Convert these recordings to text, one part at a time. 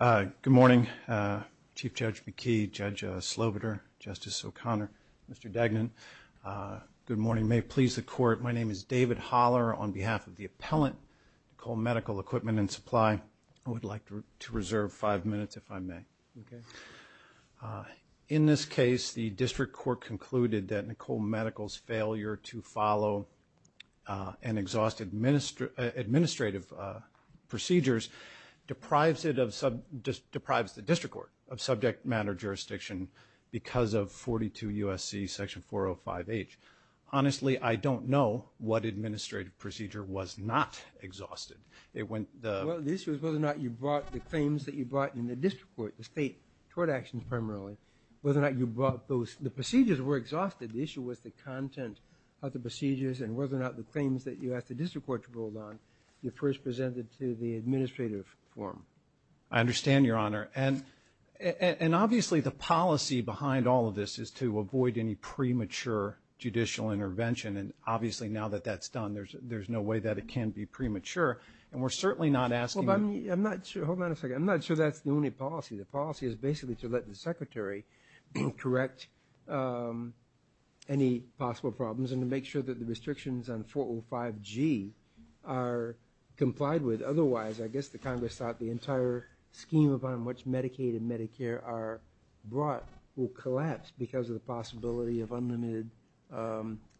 Good morning, Chief Judge McKee, Judge Slobiter, Justice O'Connor, Mr. Degnan. Good morning. May it please the Court, my name is David Holler. On behalf of the appellant, Nicholemedical Equipment&Supply, I would like to reserve five minutes if I may. In this case, the District Court concluded that Nicholemedical's failure to follow an exhaustive administrative procedures deprives the District Court of subject matter jurisdiction because of 42 U.S.C. section 405H. Honestly, I don't know what administrative procedure was not exhausted. It went the... Well, the issue is whether or not you brought the claims that you brought in the District Court, the State Tort Actions primarily, whether or not you brought those... The procedures were exhausted, the issue was the content of the procedures and whether or not the claims that you asked the District Court to hold on, you first presented to the administrative form. I understand, Your Honor. And obviously, the policy behind all of this is to avoid any premature judicial intervention and obviously, now that that's done, there's no way that it can be premature and we're certainly not asking... Well, but I'm not sure... Hold on a second. I'm not sure that's the only policy. The policy is basically to let the Secretary correct any possible problems and to make sure that the restrictions on 405G are complied with. Otherwise, I guess the Congress thought the entire scheme upon which Medicaid and Medicare are brought will collapse because of the possibility of unlimited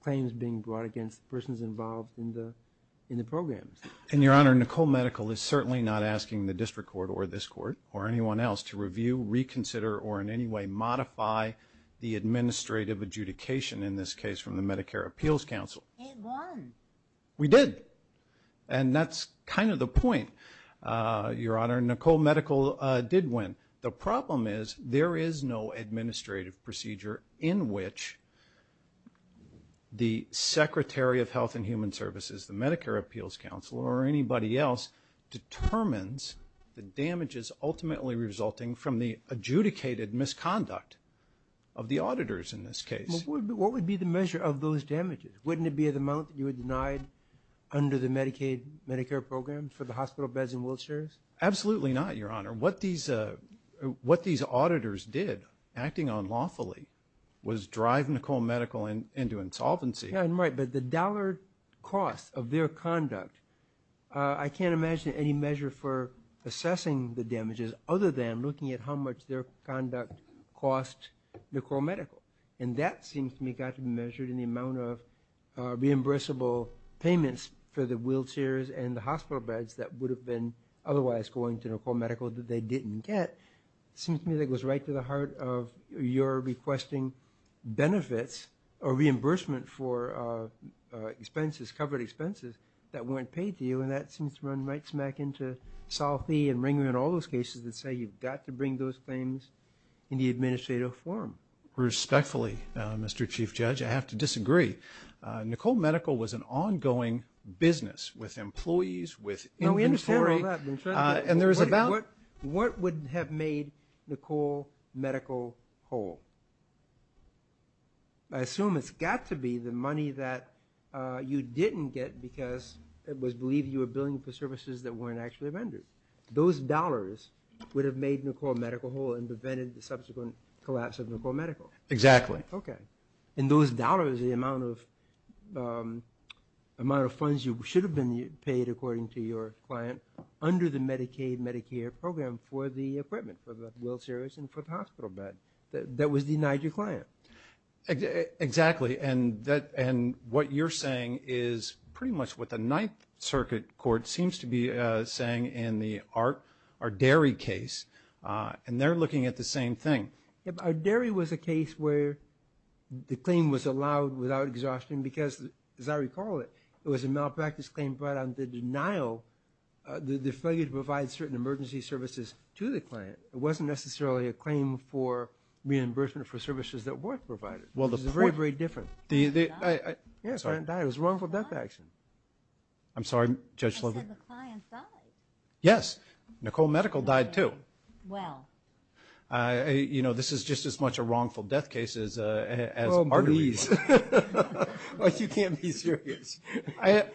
claims being brought against persons involved in the programs. And Your Honor, Nicole Medical is certainly not asking the District Court or this Court or anyone else to review, reconsider, or in any way modify the administrative adjudication in this case from the Medicare Appeals Council. It won. We did. And that's kind of the point, Your Honor. Nicole Medical did win. The problem is there is no administrative procedure in which the Secretary of Health and Human Services, the Medicare Appeals Council, or anybody else determines the damages ultimately resulting from the adjudicated misconduct of the auditors in this case. What would be the measure of those damages? Wouldn't it be the amount that you would deny under the Medicaid, Medicare programs for the hospital beds and wheelchairs? Absolutely not, Your Honor. What these auditors did, acting unlawfully, was drive Nicole Medical into insolvency. Yeah, and right. But the dollar cost of their conduct, I can't imagine any measure for assessing the damages other than looking at how much their conduct cost Nicole Medical. And that seems to me got to be measured in the amount of reimbursable payments for the wheelchairs and the hospital beds that would have been otherwise going to Nicole Medical that they didn't get. It seems to me that goes right to the heart of your requesting benefits or reimbursement for expenses, covered expenses, that weren't paid to you, and that seems to run right smack into Sol Fee and Ringling and all those cases that say you've got to bring those claims in the administrative form. Respectfully, Mr. Chief Judge, I have to disagree. Nicole Medical was an ongoing business with employees, with inventory. No, we understand all that. And there was about... Wait a minute. What would have made Nicole Medical whole? I assume it's got to be the money that you didn't get because it was believed you were billing for services that weren't actually rendered. Those dollars would have made Nicole Medical whole and prevented the subsequent collapse of Nicole Medical. Exactly. Okay. And those dollars, the amount of funds you should have been paid, according to your client, under the Medicaid-Medicare program for the equipment, for the wheelchairs and for the hospital bed, that was denied your client. Exactly. And what you're saying is pretty much what the Ninth Circuit Court seems to be saying in our dairy case, and they're looking at the same thing. Our dairy was a case where the claim was allowed without exhaustion because, as I recall it, it was a malpractice claim but on the denial, the failure to provide certain emergency services to the client. It wasn't necessarily a claim for reimbursement for services that were provided. It was very, very different. Well, the point... The... I'm sorry. Yes, the client died. It was wrongful death action. I'm sorry, Judge Sloven. I said the client died. Yes. Nicole Medical died too. Well. You know, this is just as much a wrongful death case as arteries. Well, please. You can't be serious. You're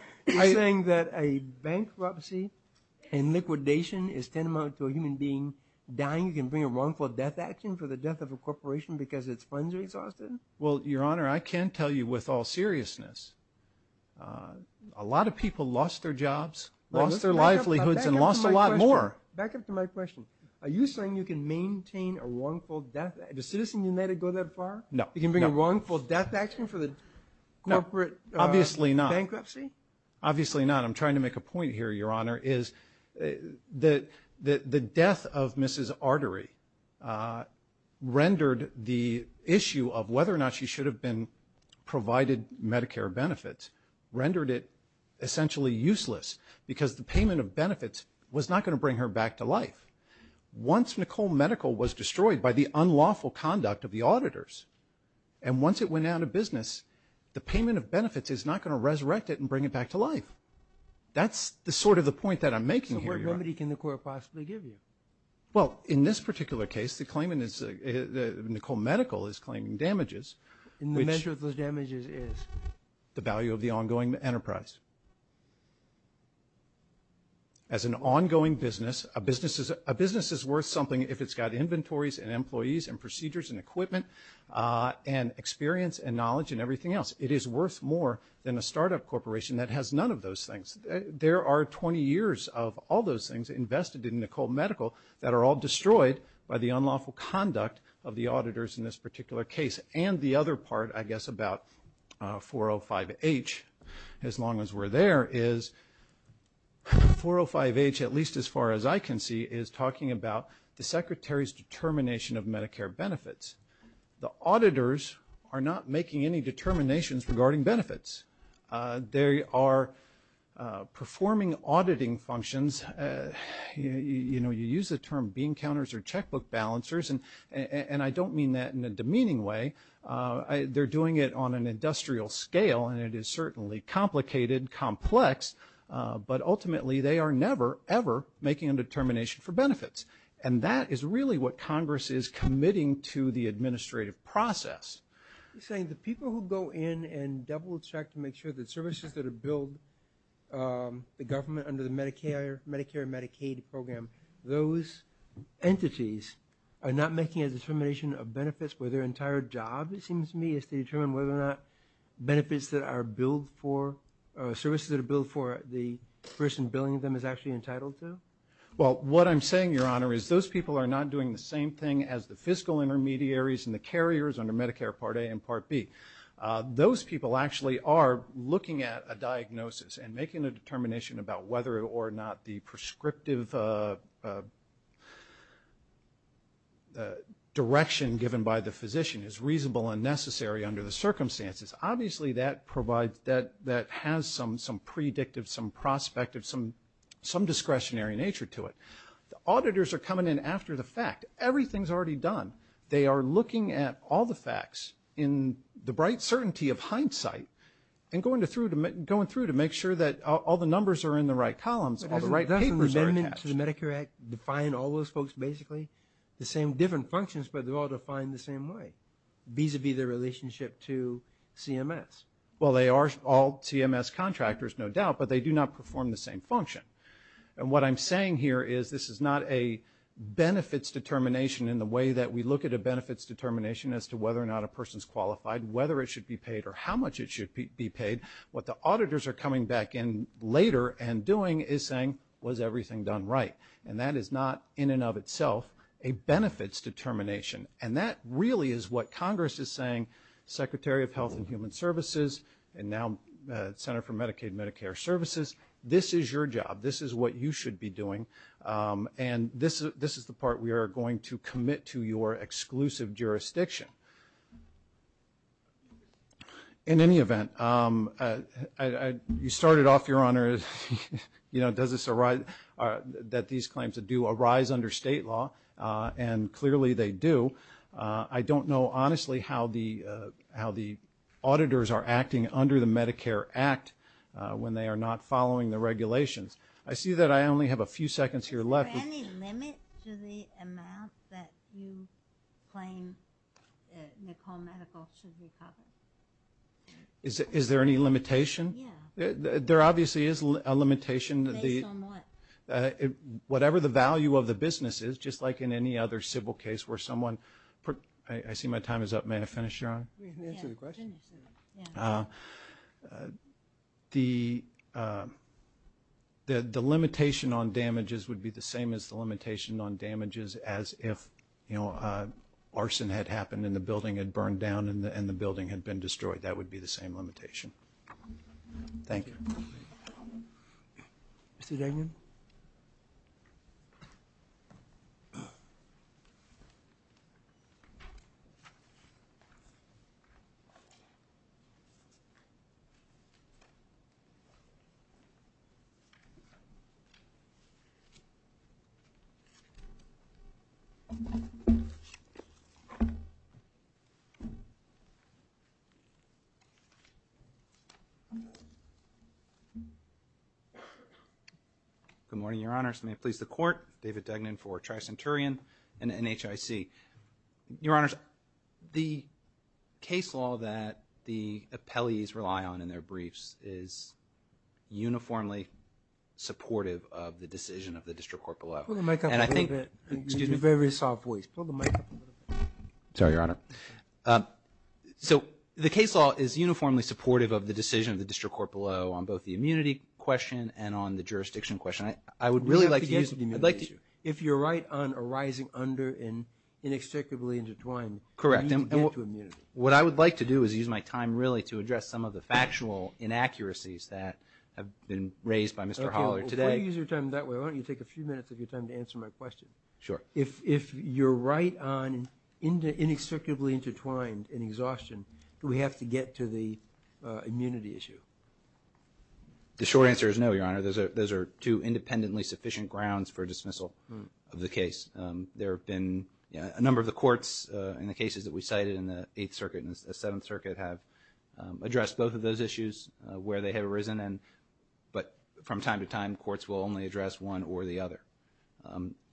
saying that a bankruptcy and liquidation is tantamount to a human being dying? You can bring a wrongful death action for the death of a corporation because its funds are exhausted? Well, Your Honor, I can tell you with all seriousness, a lot of people lost their jobs, lost their livelihoods and lost a lot more. Back up to my question. Are you saying you can maintain a wrongful death... Does Citizen United go that far? No. You can bring a wrongful death action for the corporate bankruptcy? No. Obviously not. Obviously not. I'm trying to make a point here, Your Honor, is that the death of Mrs. Artery rendered the issue of whether or not she should have been provided Medicare benefits rendered it essentially useless because the payment of benefits was not going to bring her back to life. Once Nicole Medical was destroyed by the unlawful conduct of the auditors and once it went out of business, the payment of benefits is not going to resurrect it and bring it back to life. That's sort of the point that I'm making here, Your Honor. So what remedy can the court possibly give you? Well, in this particular case, Nicole Medical is claiming damages. And the measure of those damages is? The value of the ongoing enterprise. As an ongoing business, a business is worth something if it's got inventories and employees and procedures and equipment and experience and knowledge and everything else. It is worth more than a startup corporation that has none of those things. There are 20 years of all those things invested in Nicole Medical that are all destroyed by the unlawful conduct of the auditors in this particular case. And the other part, I guess, about 405H, as long as we're there, is 405H, at least as far as I can see, is talking about the Secretary's determination of Medicare benefits. The auditors are not making any determinations regarding benefits. They are performing auditing functions. You know, you use the term bean counters or checkbook balancers, and I don't mean that in a demeaning way. They're doing it on an industrial scale, and it is certainly complicated, complex. But ultimately, they are never, ever making a determination for benefits. And that is really what Congress is committing to the administrative process. You're saying the people who go in and double check to make sure that services that are billed, the government under the Medicare and Medicaid program, those entities are not making a determination of benefits for their entire job, it seems to me, is to determine whether or not benefits that are billed for or services that are billed for the person billing them is actually entitled to? Well, what I'm saying, Your Honor, is those people are not doing the same thing as the fiscal intermediaries and the carriers under Medicare Part A and Part B. Those people actually are looking at a diagnosis and making a determination about whether or not the prescriptive direction given by the physician is reasonable and necessary under the circumstances. Obviously, that has some predictive, some prospective, some discretionary nature to it. Auditors are coming in after the fact. Everything's already done. They are looking at all the facts in the bright certainty of hindsight and going through to make sure that all the numbers are in the right columns, all the right papers are attached. Doesn't the amendment to the Medicare Act define all those folks basically the same different functions, but they're all defined the same way, vis-a-vis their relationship to CMS? Well, they are all CMS contractors, no doubt, but they do not perform the same function. And what I'm saying here is this is not a benefits determination in the way that we look at a benefits determination as to whether or not a person's qualified, whether it should be paid or how much it should be paid. What the auditors are coming back in later and doing is saying, was everything done right? And that is not in and of itself a benefits determination. And that really is what Congress is saying, Secretary of Health and Human Services, and now Senator for Medicaid and Medicare Services, this is your job. This is what you should be doing. And this is the part we are going to commit to your exclusive jurisdiction. In any event, you started off, Your Honor, that these claims do arise under state law, and clearly they do. I don't know, honestly, how the auditors are acting under the Medicare Act when they are not following the regulations. I see that I only have a few seconds here left. Is there any limit to the amount that you claim Nicole Medical should recover? Is there any limitation? Yeah. There obviously is a limitation. Based on what? Whatever the value of the business is, just like in any other civil case where someone – I see my time is up. May I finish, Your Honor? Yeah, finish. The limitation on damages would be the same as the limitation on damages as if arson had happened and the building had burned down and the building had been destroyed. That would be the same limitation. Thank you. Mr. Daniel? Good morning, Your Honors. May it please the Court. David Dugnan for Tricenturion and NHIC. Your Honors, the case law that the appellees rely on in their briefs is uniformly supportive of the decision of the district court below. Pull the mic up a little bit. Excuse me. Very soft voice. Pull the mic up a little bit. Sorry, Your Honor. So the case law is uniformly supportive of the decision of the district court below on both the immunity question and on the jurisdiction question. I would really like to use – If you're right on arising under and inextricably intertwined – Correct. What I would like to do is use my time really to address some of the factual inaccuracies that have been raised by Mr. Holler today. Okay, well, why don't you use your time that way? Why don't you take a few minutes of your time to answer my question? Sure. If you're right on inextricably intertwined and exhaustion, do we have to get to the immunity issue? The short answer is no, Your Honor. Those are two independently sufficient grounds for dismissal of the case. There have been a number of the courts in the cases that we cited in the Eighth Circuit and the Seventh Circuit have addressed both of those issues where they have arisen, but from time to time courts will only address one or the other.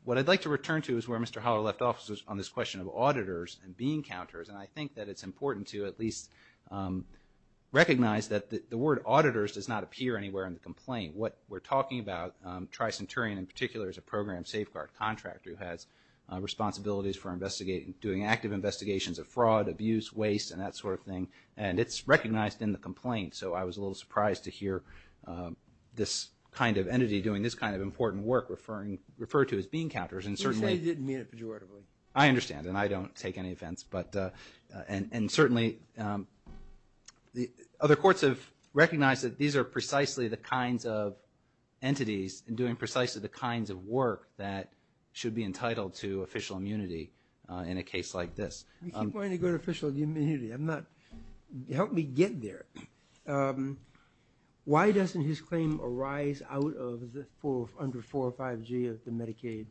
What I'd like to return to is where Mr. Holler left off on this question of auditors and being counters, and I think that it's important to at least recognize that the word auditors does not appear anywhere in the complaint. What we're talking about, Tricenturian in particular is a program safeguard contractor who has responsibilities for doing active investigations of fraud, abuse, waste, and that sort of thing, and it's recognized in the complaint. So I was a little surprised to hear this kind of entity doing this kind of important work referred to as being counters. He said he didn't mean it pejoratively. I understand, and I don't take any offense. And certainly other courts have recognized that these are precisely the kinds of entities and doing precisely the kinds of work that should be entitled to official immunity in a case like this. You keep wanting to go to official immunity. Help me get there. Why doesn't his claim arise out of under 405G of the Medicaid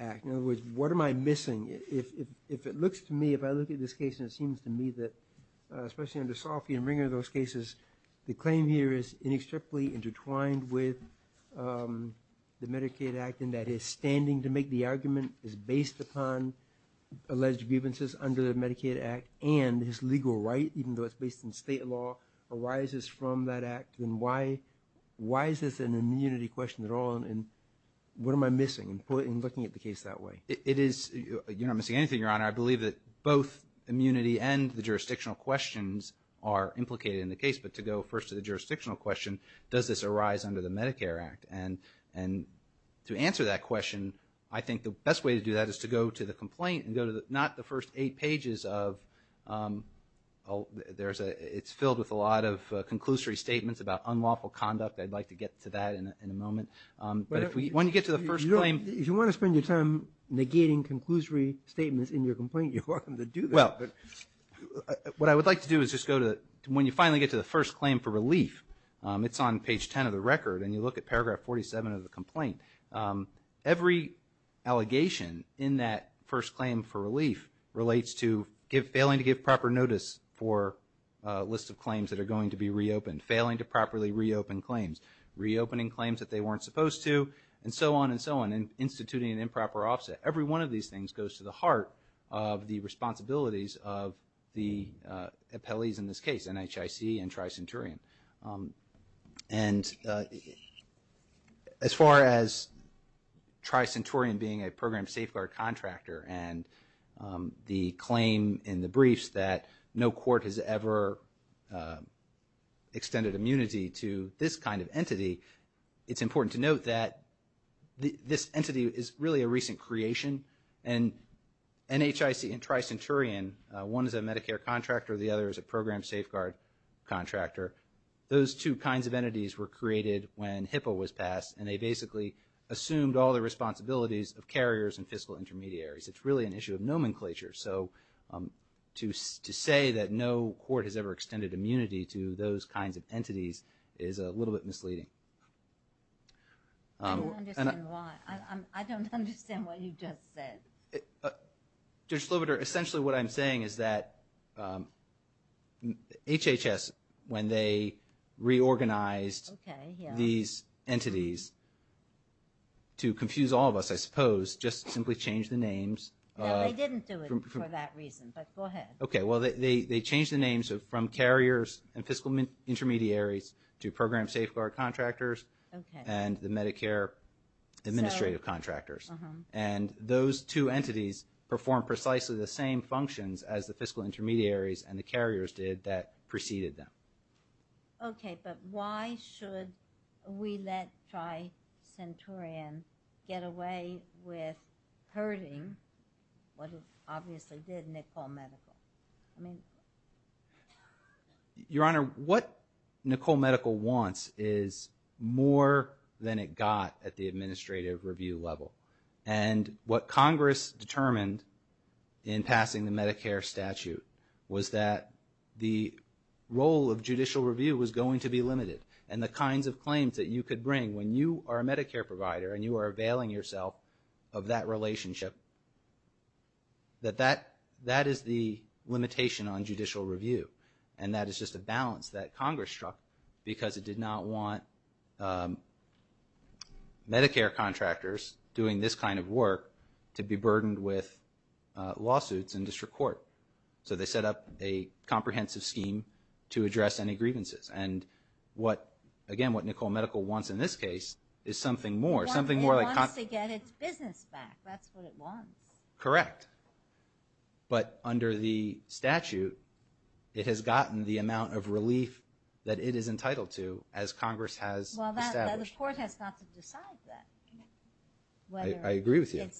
Act? In other words, what am I missing? If it looks to me, if I look at this case and it seems to me that, especially under Soffie and Ringer, those cases, the claim here is inextricably intertwined with the Medicaid Act and that his standing to make the argument is based upon alleged grievances under the Medicaid Act and his legal right, even though it's based in state law, arises from that act, then why is this an immunity question at all, and what am I missing in looking at the case that way? It is, you're not missing anything, Your Honor. I believe that both immunity and the jurisdictional questions are implicated in the case, but to go first to the jurisdictional question, does this arise under the Medicare Act? And to answer that question, I think the best way to do that is to go to the complaint and go to not the first eight pages of, it's filled with a lot of conclusory statements about unlawful conduct. I'd like to get to that in a moment. If you want to spend your time negating conclusory statements in your complaint, you're welcome to do that, but what I would like to do is just go to, when you finally get to the first claim for relief, it's on page 10 of the record, and you look at paragraph 47 of the complaint. Every allegation in that first claim for relief relates to failing to give proper notice for a list of claims that are going to be reopened, failing to properly reopen claims, reopening claims that they weren't supposed to, and so on and so on, and instituting an improper offset. Every one of these things goes to the heart of the responsibilities of the appellees in this case, NHIC and Tri-Centurion. And as far as Tri-Centurion being a program safeguard contractor and the claim in the briefs that no court has ever extended immunity to this kind of entity, it's important to note that this entity is really a recent creation, and NHIC and Tri-Centurion, one is a Medicare contractor, the other is a program safeguard contractor, those two kinds of entities were created when HIPAA was passed, and they basically assumed all the responsibilities of carriers and fiscal intermediaries. It's really an issue of nomenclature. So to say that no court has ever extended immunity to those kinds of entities is a little bit misleading. I don't understand why. I don't understand what you just said. Judge Slobodur, essentially what I'm saying is that HHS, when they reorganized these entities, to confuse all of us, I suppose, just simply changed the names. No, they didn't do it for that reason, but go ahead. Okay, well, they changed the names from carriers and fiscal intermediaries to program safeguard contractors and the Medicare administrative contractors. And those two entities perform precisely the same functions as the fiscal intermediaries and the carriers did that preceded them. Okay, but why should we let Tri-Centurion get away with hurting what it obviously did, Nicole Medical? Your Honor, what Nicole Medical wants is more than it got at the administrative review level. And what Congress determined in passing the Medicare statute was that the role of judicial review was going to be limited and the kinds of claims that you could bring when you are a Medicare provider and you are availing yourself of that relationship, that that is the limitation on judicial review. And that is just a balance that Congress struck because it did not want Medicare contractors doing this kind of work to be burdened with lawsuits in district court. So they set up a comprehensive scheme to address any grievances. And again, what Nicole Medical wants in this case is something more. It wants to get its business back. That's what it wants. Correct. But under the statute, it has gotten the amount of relief that it is entitled to as Congress has established. Well, the court has not to decide that. I agree with you.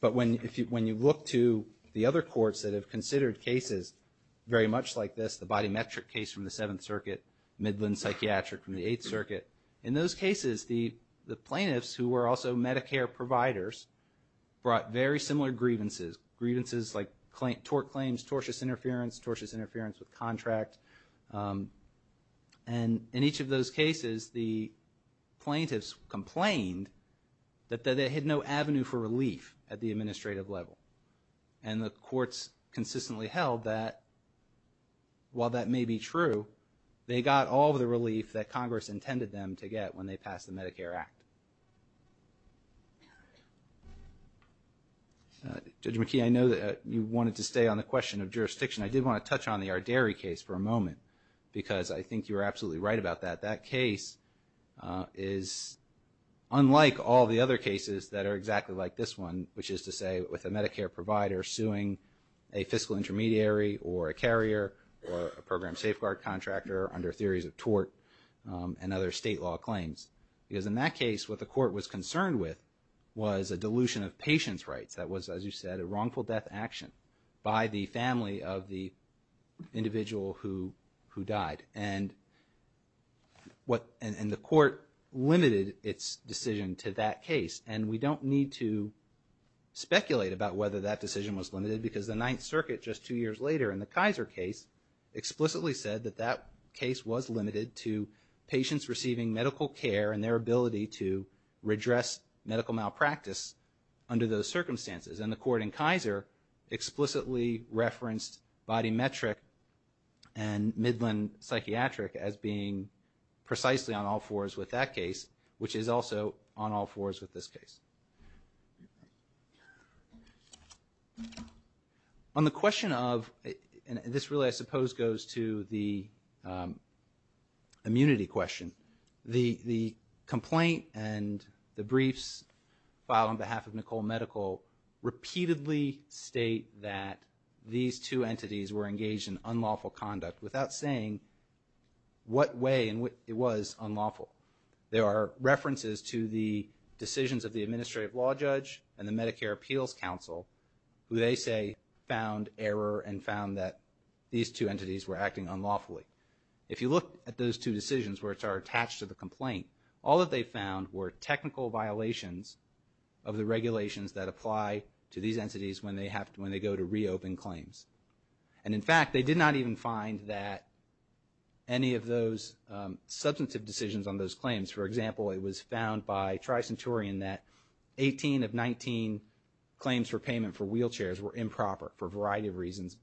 But when you look to the other courts that have considered cases very much like this, the body metric case from the Seventh Circuit, Midland Psychiatric from the Eighth Circuit, in those cases the plaintiffs who were also Medicare providers brought very similar grievances. Grievances like tort claims, tortious interference, tortious interference with contract. And in each of those cases the plaintiffs complained that they had no avenue for relief at the administrative level. And the courts consistently held that while that may be true, they got all of the relief that Congress intended them to get when they passed the Medicare Act. Judge McKee, I know that you wanted to stay on the question of jurisdiction. I did want to touch on the Arderi case for a moment because I think you were absolutely right about that. That case is unlike all the other cases that are exactly like this one, which is to say with a Medicare provider suing a fiscal intermediary or a carrier or a program safeguard contractor under theories of tort and other state law claims. Because in that case what the court was concerned with was a dilution of patient's rights. That was, as you said, a wrongful death action by the family of the individual who died. And the court limited its decision to that case. And we don't need to speculate about whether that decision was limited because the Ninth Circuit just two years later in the Kaiser case explicitly said that that case was limited to patients receiving medical care and their ability to redress medical malpractice under those circumstances. And the court in Kaiser explicitly referenced body metric and Midland psychiatric as being precisely on all fours with that case, which is also on all fours with this case. On the question of, and this really I suppose goes to the immunity question, the complaint and the briefs filed on behalf of Nicole Medical repeatedly state that these two entities were engaged in unlawful conduct without saying what way it was unlawful. There are references to the decisions of the administrative law judge and the Medicare Appeals Council who they say found error and found that these two entities were acting unlawfully. If you look at those two decisions which are attached to the complaint, all that they found were technical violations of the regulations that apply to these entities when they go to reopen claims. And in fact, they did not even find that any of those substantive decisions on those claims. For example, it was found by Tricenturian that 18 of 19 claims for payment for wheelchairs were improper for a variety of reasons,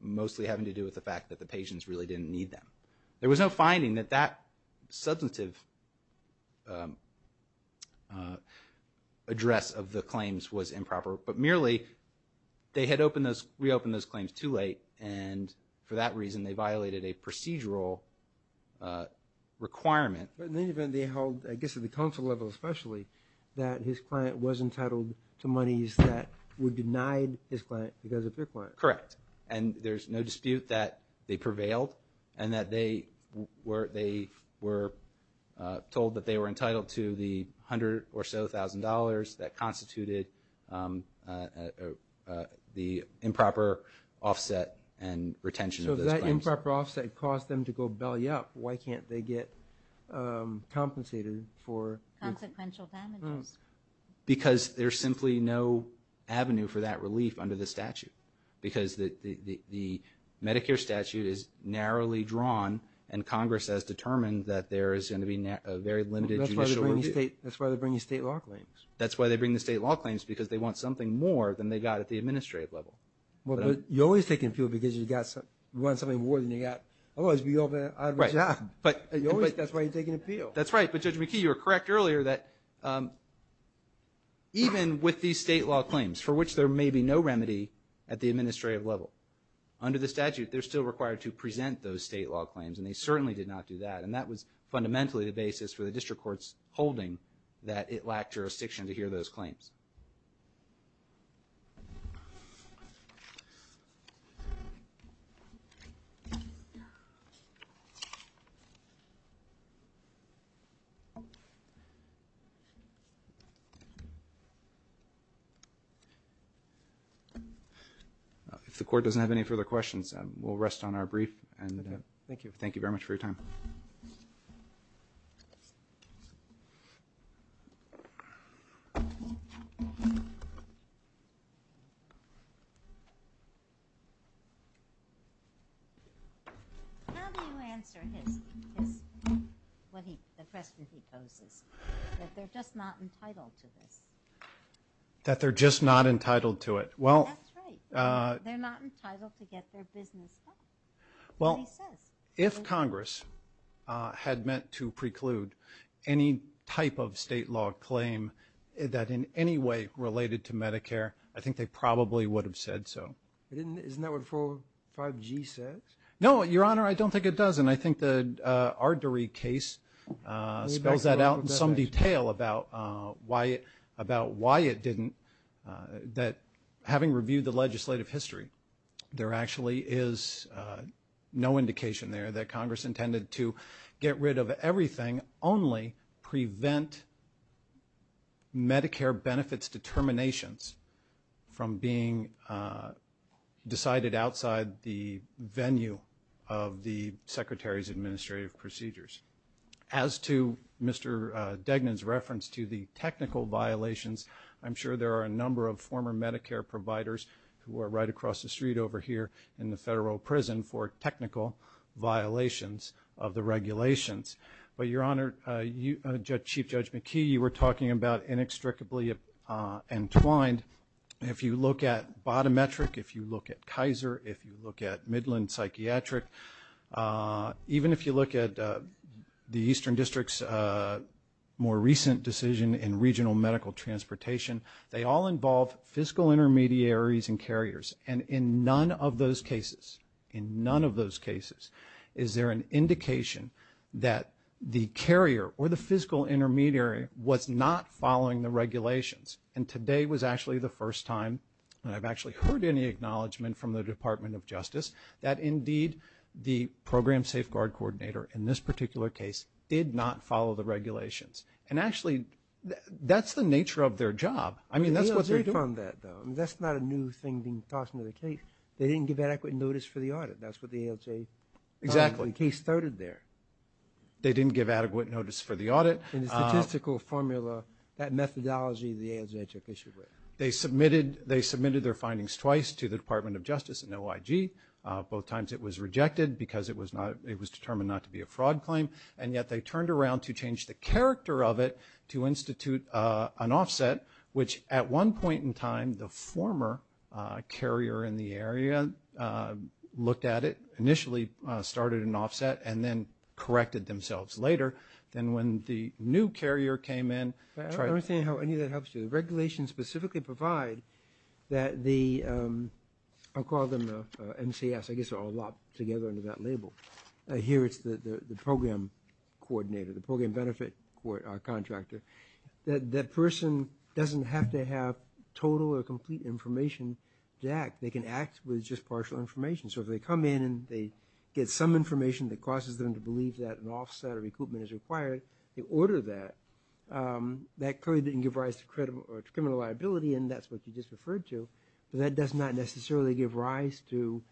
mostly having to do with the fact that the patients really didn't need them. There was no finding that that substantive address of the claims was improper, but merely they had reopened those claims too late and for that reason they violated a procedural requirement. In any event, they held, I guess at the council level especially, that his client was entitled to monies that were denied his client because of their client. Correct. And there's no dispute that they prevailed and that they were told that they were entitled to the $100,000 or so that constituted the improper offset and retention of those claims. So if that improper offset caused them to go belly up, why can't they get compensated for consequential damages? Because there's simply no avenue for that relief under the statute because the Medicare statute is narrowly drawn and Congress has determined that there is going to be a very limited judicial review. That's why they bring the state law claims. That's why they bring the state law claims, because they want something more than they got at the administrative level. Well, but you're always taking appeal because you want something more than you got. Otherwise, you'll be out of a job. That's why you're taking appeal. That's right, but Judge McKee, you were correct earlier that even with these state law claims, for which there may be no remedy at the administrative level, under the statute they're still required to present those state law claims and they certainly did not do that and that was fundamentally the basis for the district court's holding that it lacked jurisdiction to hear those claims. If the court doesn't have any further questions, we'll rest on our brief. Thank you very much for your time. How do you answer the question he poses that they're just not entitled to this? That they're just not entitled to it. That's right. They're not entitled to get their business done. Well, if Congress had meant to preclude any type of state law claim that in any way related to Medicare, I think they probably would have said so. Isn't that what 45G says? No, Your Honor, I don't think it does, and I think the Ardery case spells that out in some detail about why it didn't. That having reviewed the legislative history, there actually is no indication there that Congress intended to get rid of everything, only prevent Medicare benefits determinations from being decided outside the venue of the Secretary's administrative procedures. As to Mr. Degnan's reference to the technical violations, I'm sure there are a number of former Medicare providers who are right across the street over here in the federal prison for technical violations of the regulations. But, Your Honor, Chief Judge McKee, you were talking about inextricably entwined. If you look at bottom metric, if you look at Kaiser, if you look at Midland Psychiatric, even if you look at the Eastern District's more recent decision in regional medical transportation, they all involve fiscal intermediaries and carriers. And in none of those cases, in none of those cases, is there an indication that the carrier or the fiscal intermediary was not following the regulations. And today was actually the first time that I've actually heard any acknowledgement from the Department of Justice that, indeed, the Program Safeguard Coordinator in this particular case did not follow the regulations. And, actually, that's the nature of their job. I mean, that's what they're doing. The ALJ found that, though. I mean, that's not a new thing being tossed into the case. They didn't give adequate notice for the audit. That's what the ALJ found when the case started there. They didn't give adequate notice for the audit. In the statistical formula, that methodology, the ALJ took issue with. They submitted their findings twice to the Department of Justice and OIG. Both times it was rejected because it was determined not to be a fraud claim, and yet they turned around to change the character of it to institute an offset, which at one point in time, the former carrier in the area looked at it, initially started an offset, and then corrected themselves later. Then when the new carrier came in, tried to- I don't understand how any of that helps you. The regulations specifically provide that the-I'll call them the MCS. I guess they're all lopped together under that label. Here it's the program coordinator, the program benefit contractor. That person doesn't have to have total or complete information to act. They can act with just partial information. So if they come in and they get some information that causes them to believe that an offset or recoupment is required, they order that. That clearly didn't give rise to criminal liability, and that's what you just referred to. But that does not necessarily give rise to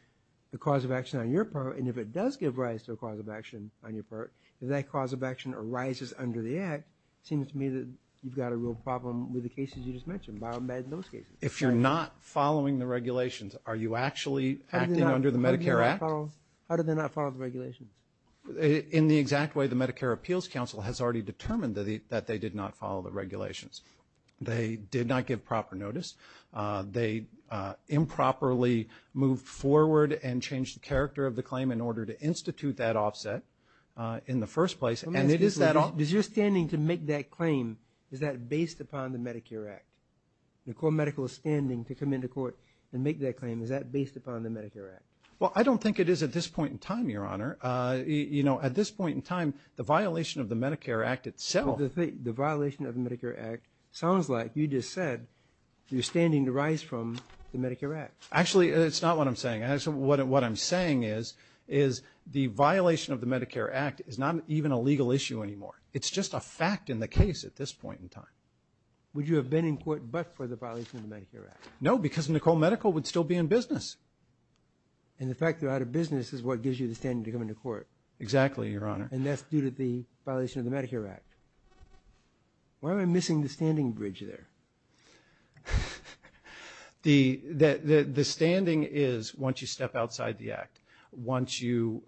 the cause of action on your part. And if it does give rise to a cause of action on your part, if that cause of action arises under the Act, it seems to me that you've got a real problem with the cases you just mentioned, both bad and those cases. If you're not following the regulations, are you actually acting under the Medicare Act? How do they not follow the regulations? In the exact way the Medicare Appeals Council has already determined that they did not follow the regulations. They did not give proper notice. They improperly moved forward and changed the character of the claim in order to institute that offset in the first place. Does your standing to make that claim, is that based upon the Medicare Act? The core medical standing to come into court and make that claim, is that based upon the Medicare Act? Well, I don't think it is at this point in time, Your Honor. You know, at this point in time, the violation of the Medicare Act itself. The violation of the Medicare Act sounds like you just said you're standing to rise from the Medicare Act. Actually, it's not what I'm saying. What I'm saying is the violation of the Medicare Act is not even a legal issue anymore. It's just a fact in the case at this point in time. Would you have been in court but for the violation of the Medicare Act? No, because Nicole Medical would still be in business. And the fact they're out of business is what gives you the standing to come into court. Exactly, Your Honor. And that's due to the violation of the Medicare Act. Why am I missing the standing bridge there? The standing is once you step outside the Act, once you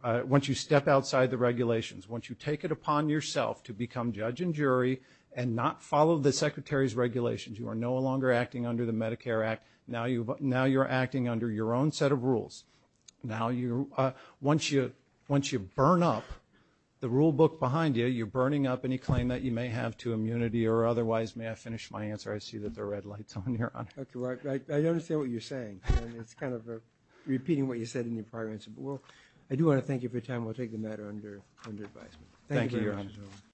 step outside the regulations, once you take it upon yourself to become judge and jury and not follow the Secretary's regulations. You are no longer acting under the Medicare Act. Now you're acting under your own set of rules. Once you burn up the rule book behind you, you're burning up any claim that you may have to immunity or otherwise. May I finish my answer? I see that there are red lights on here. I understand what you're saying. It's kind of repeating what you said in your prior answer. I do want to thank you for your time. Thank you very much. Thank you, Your Honor.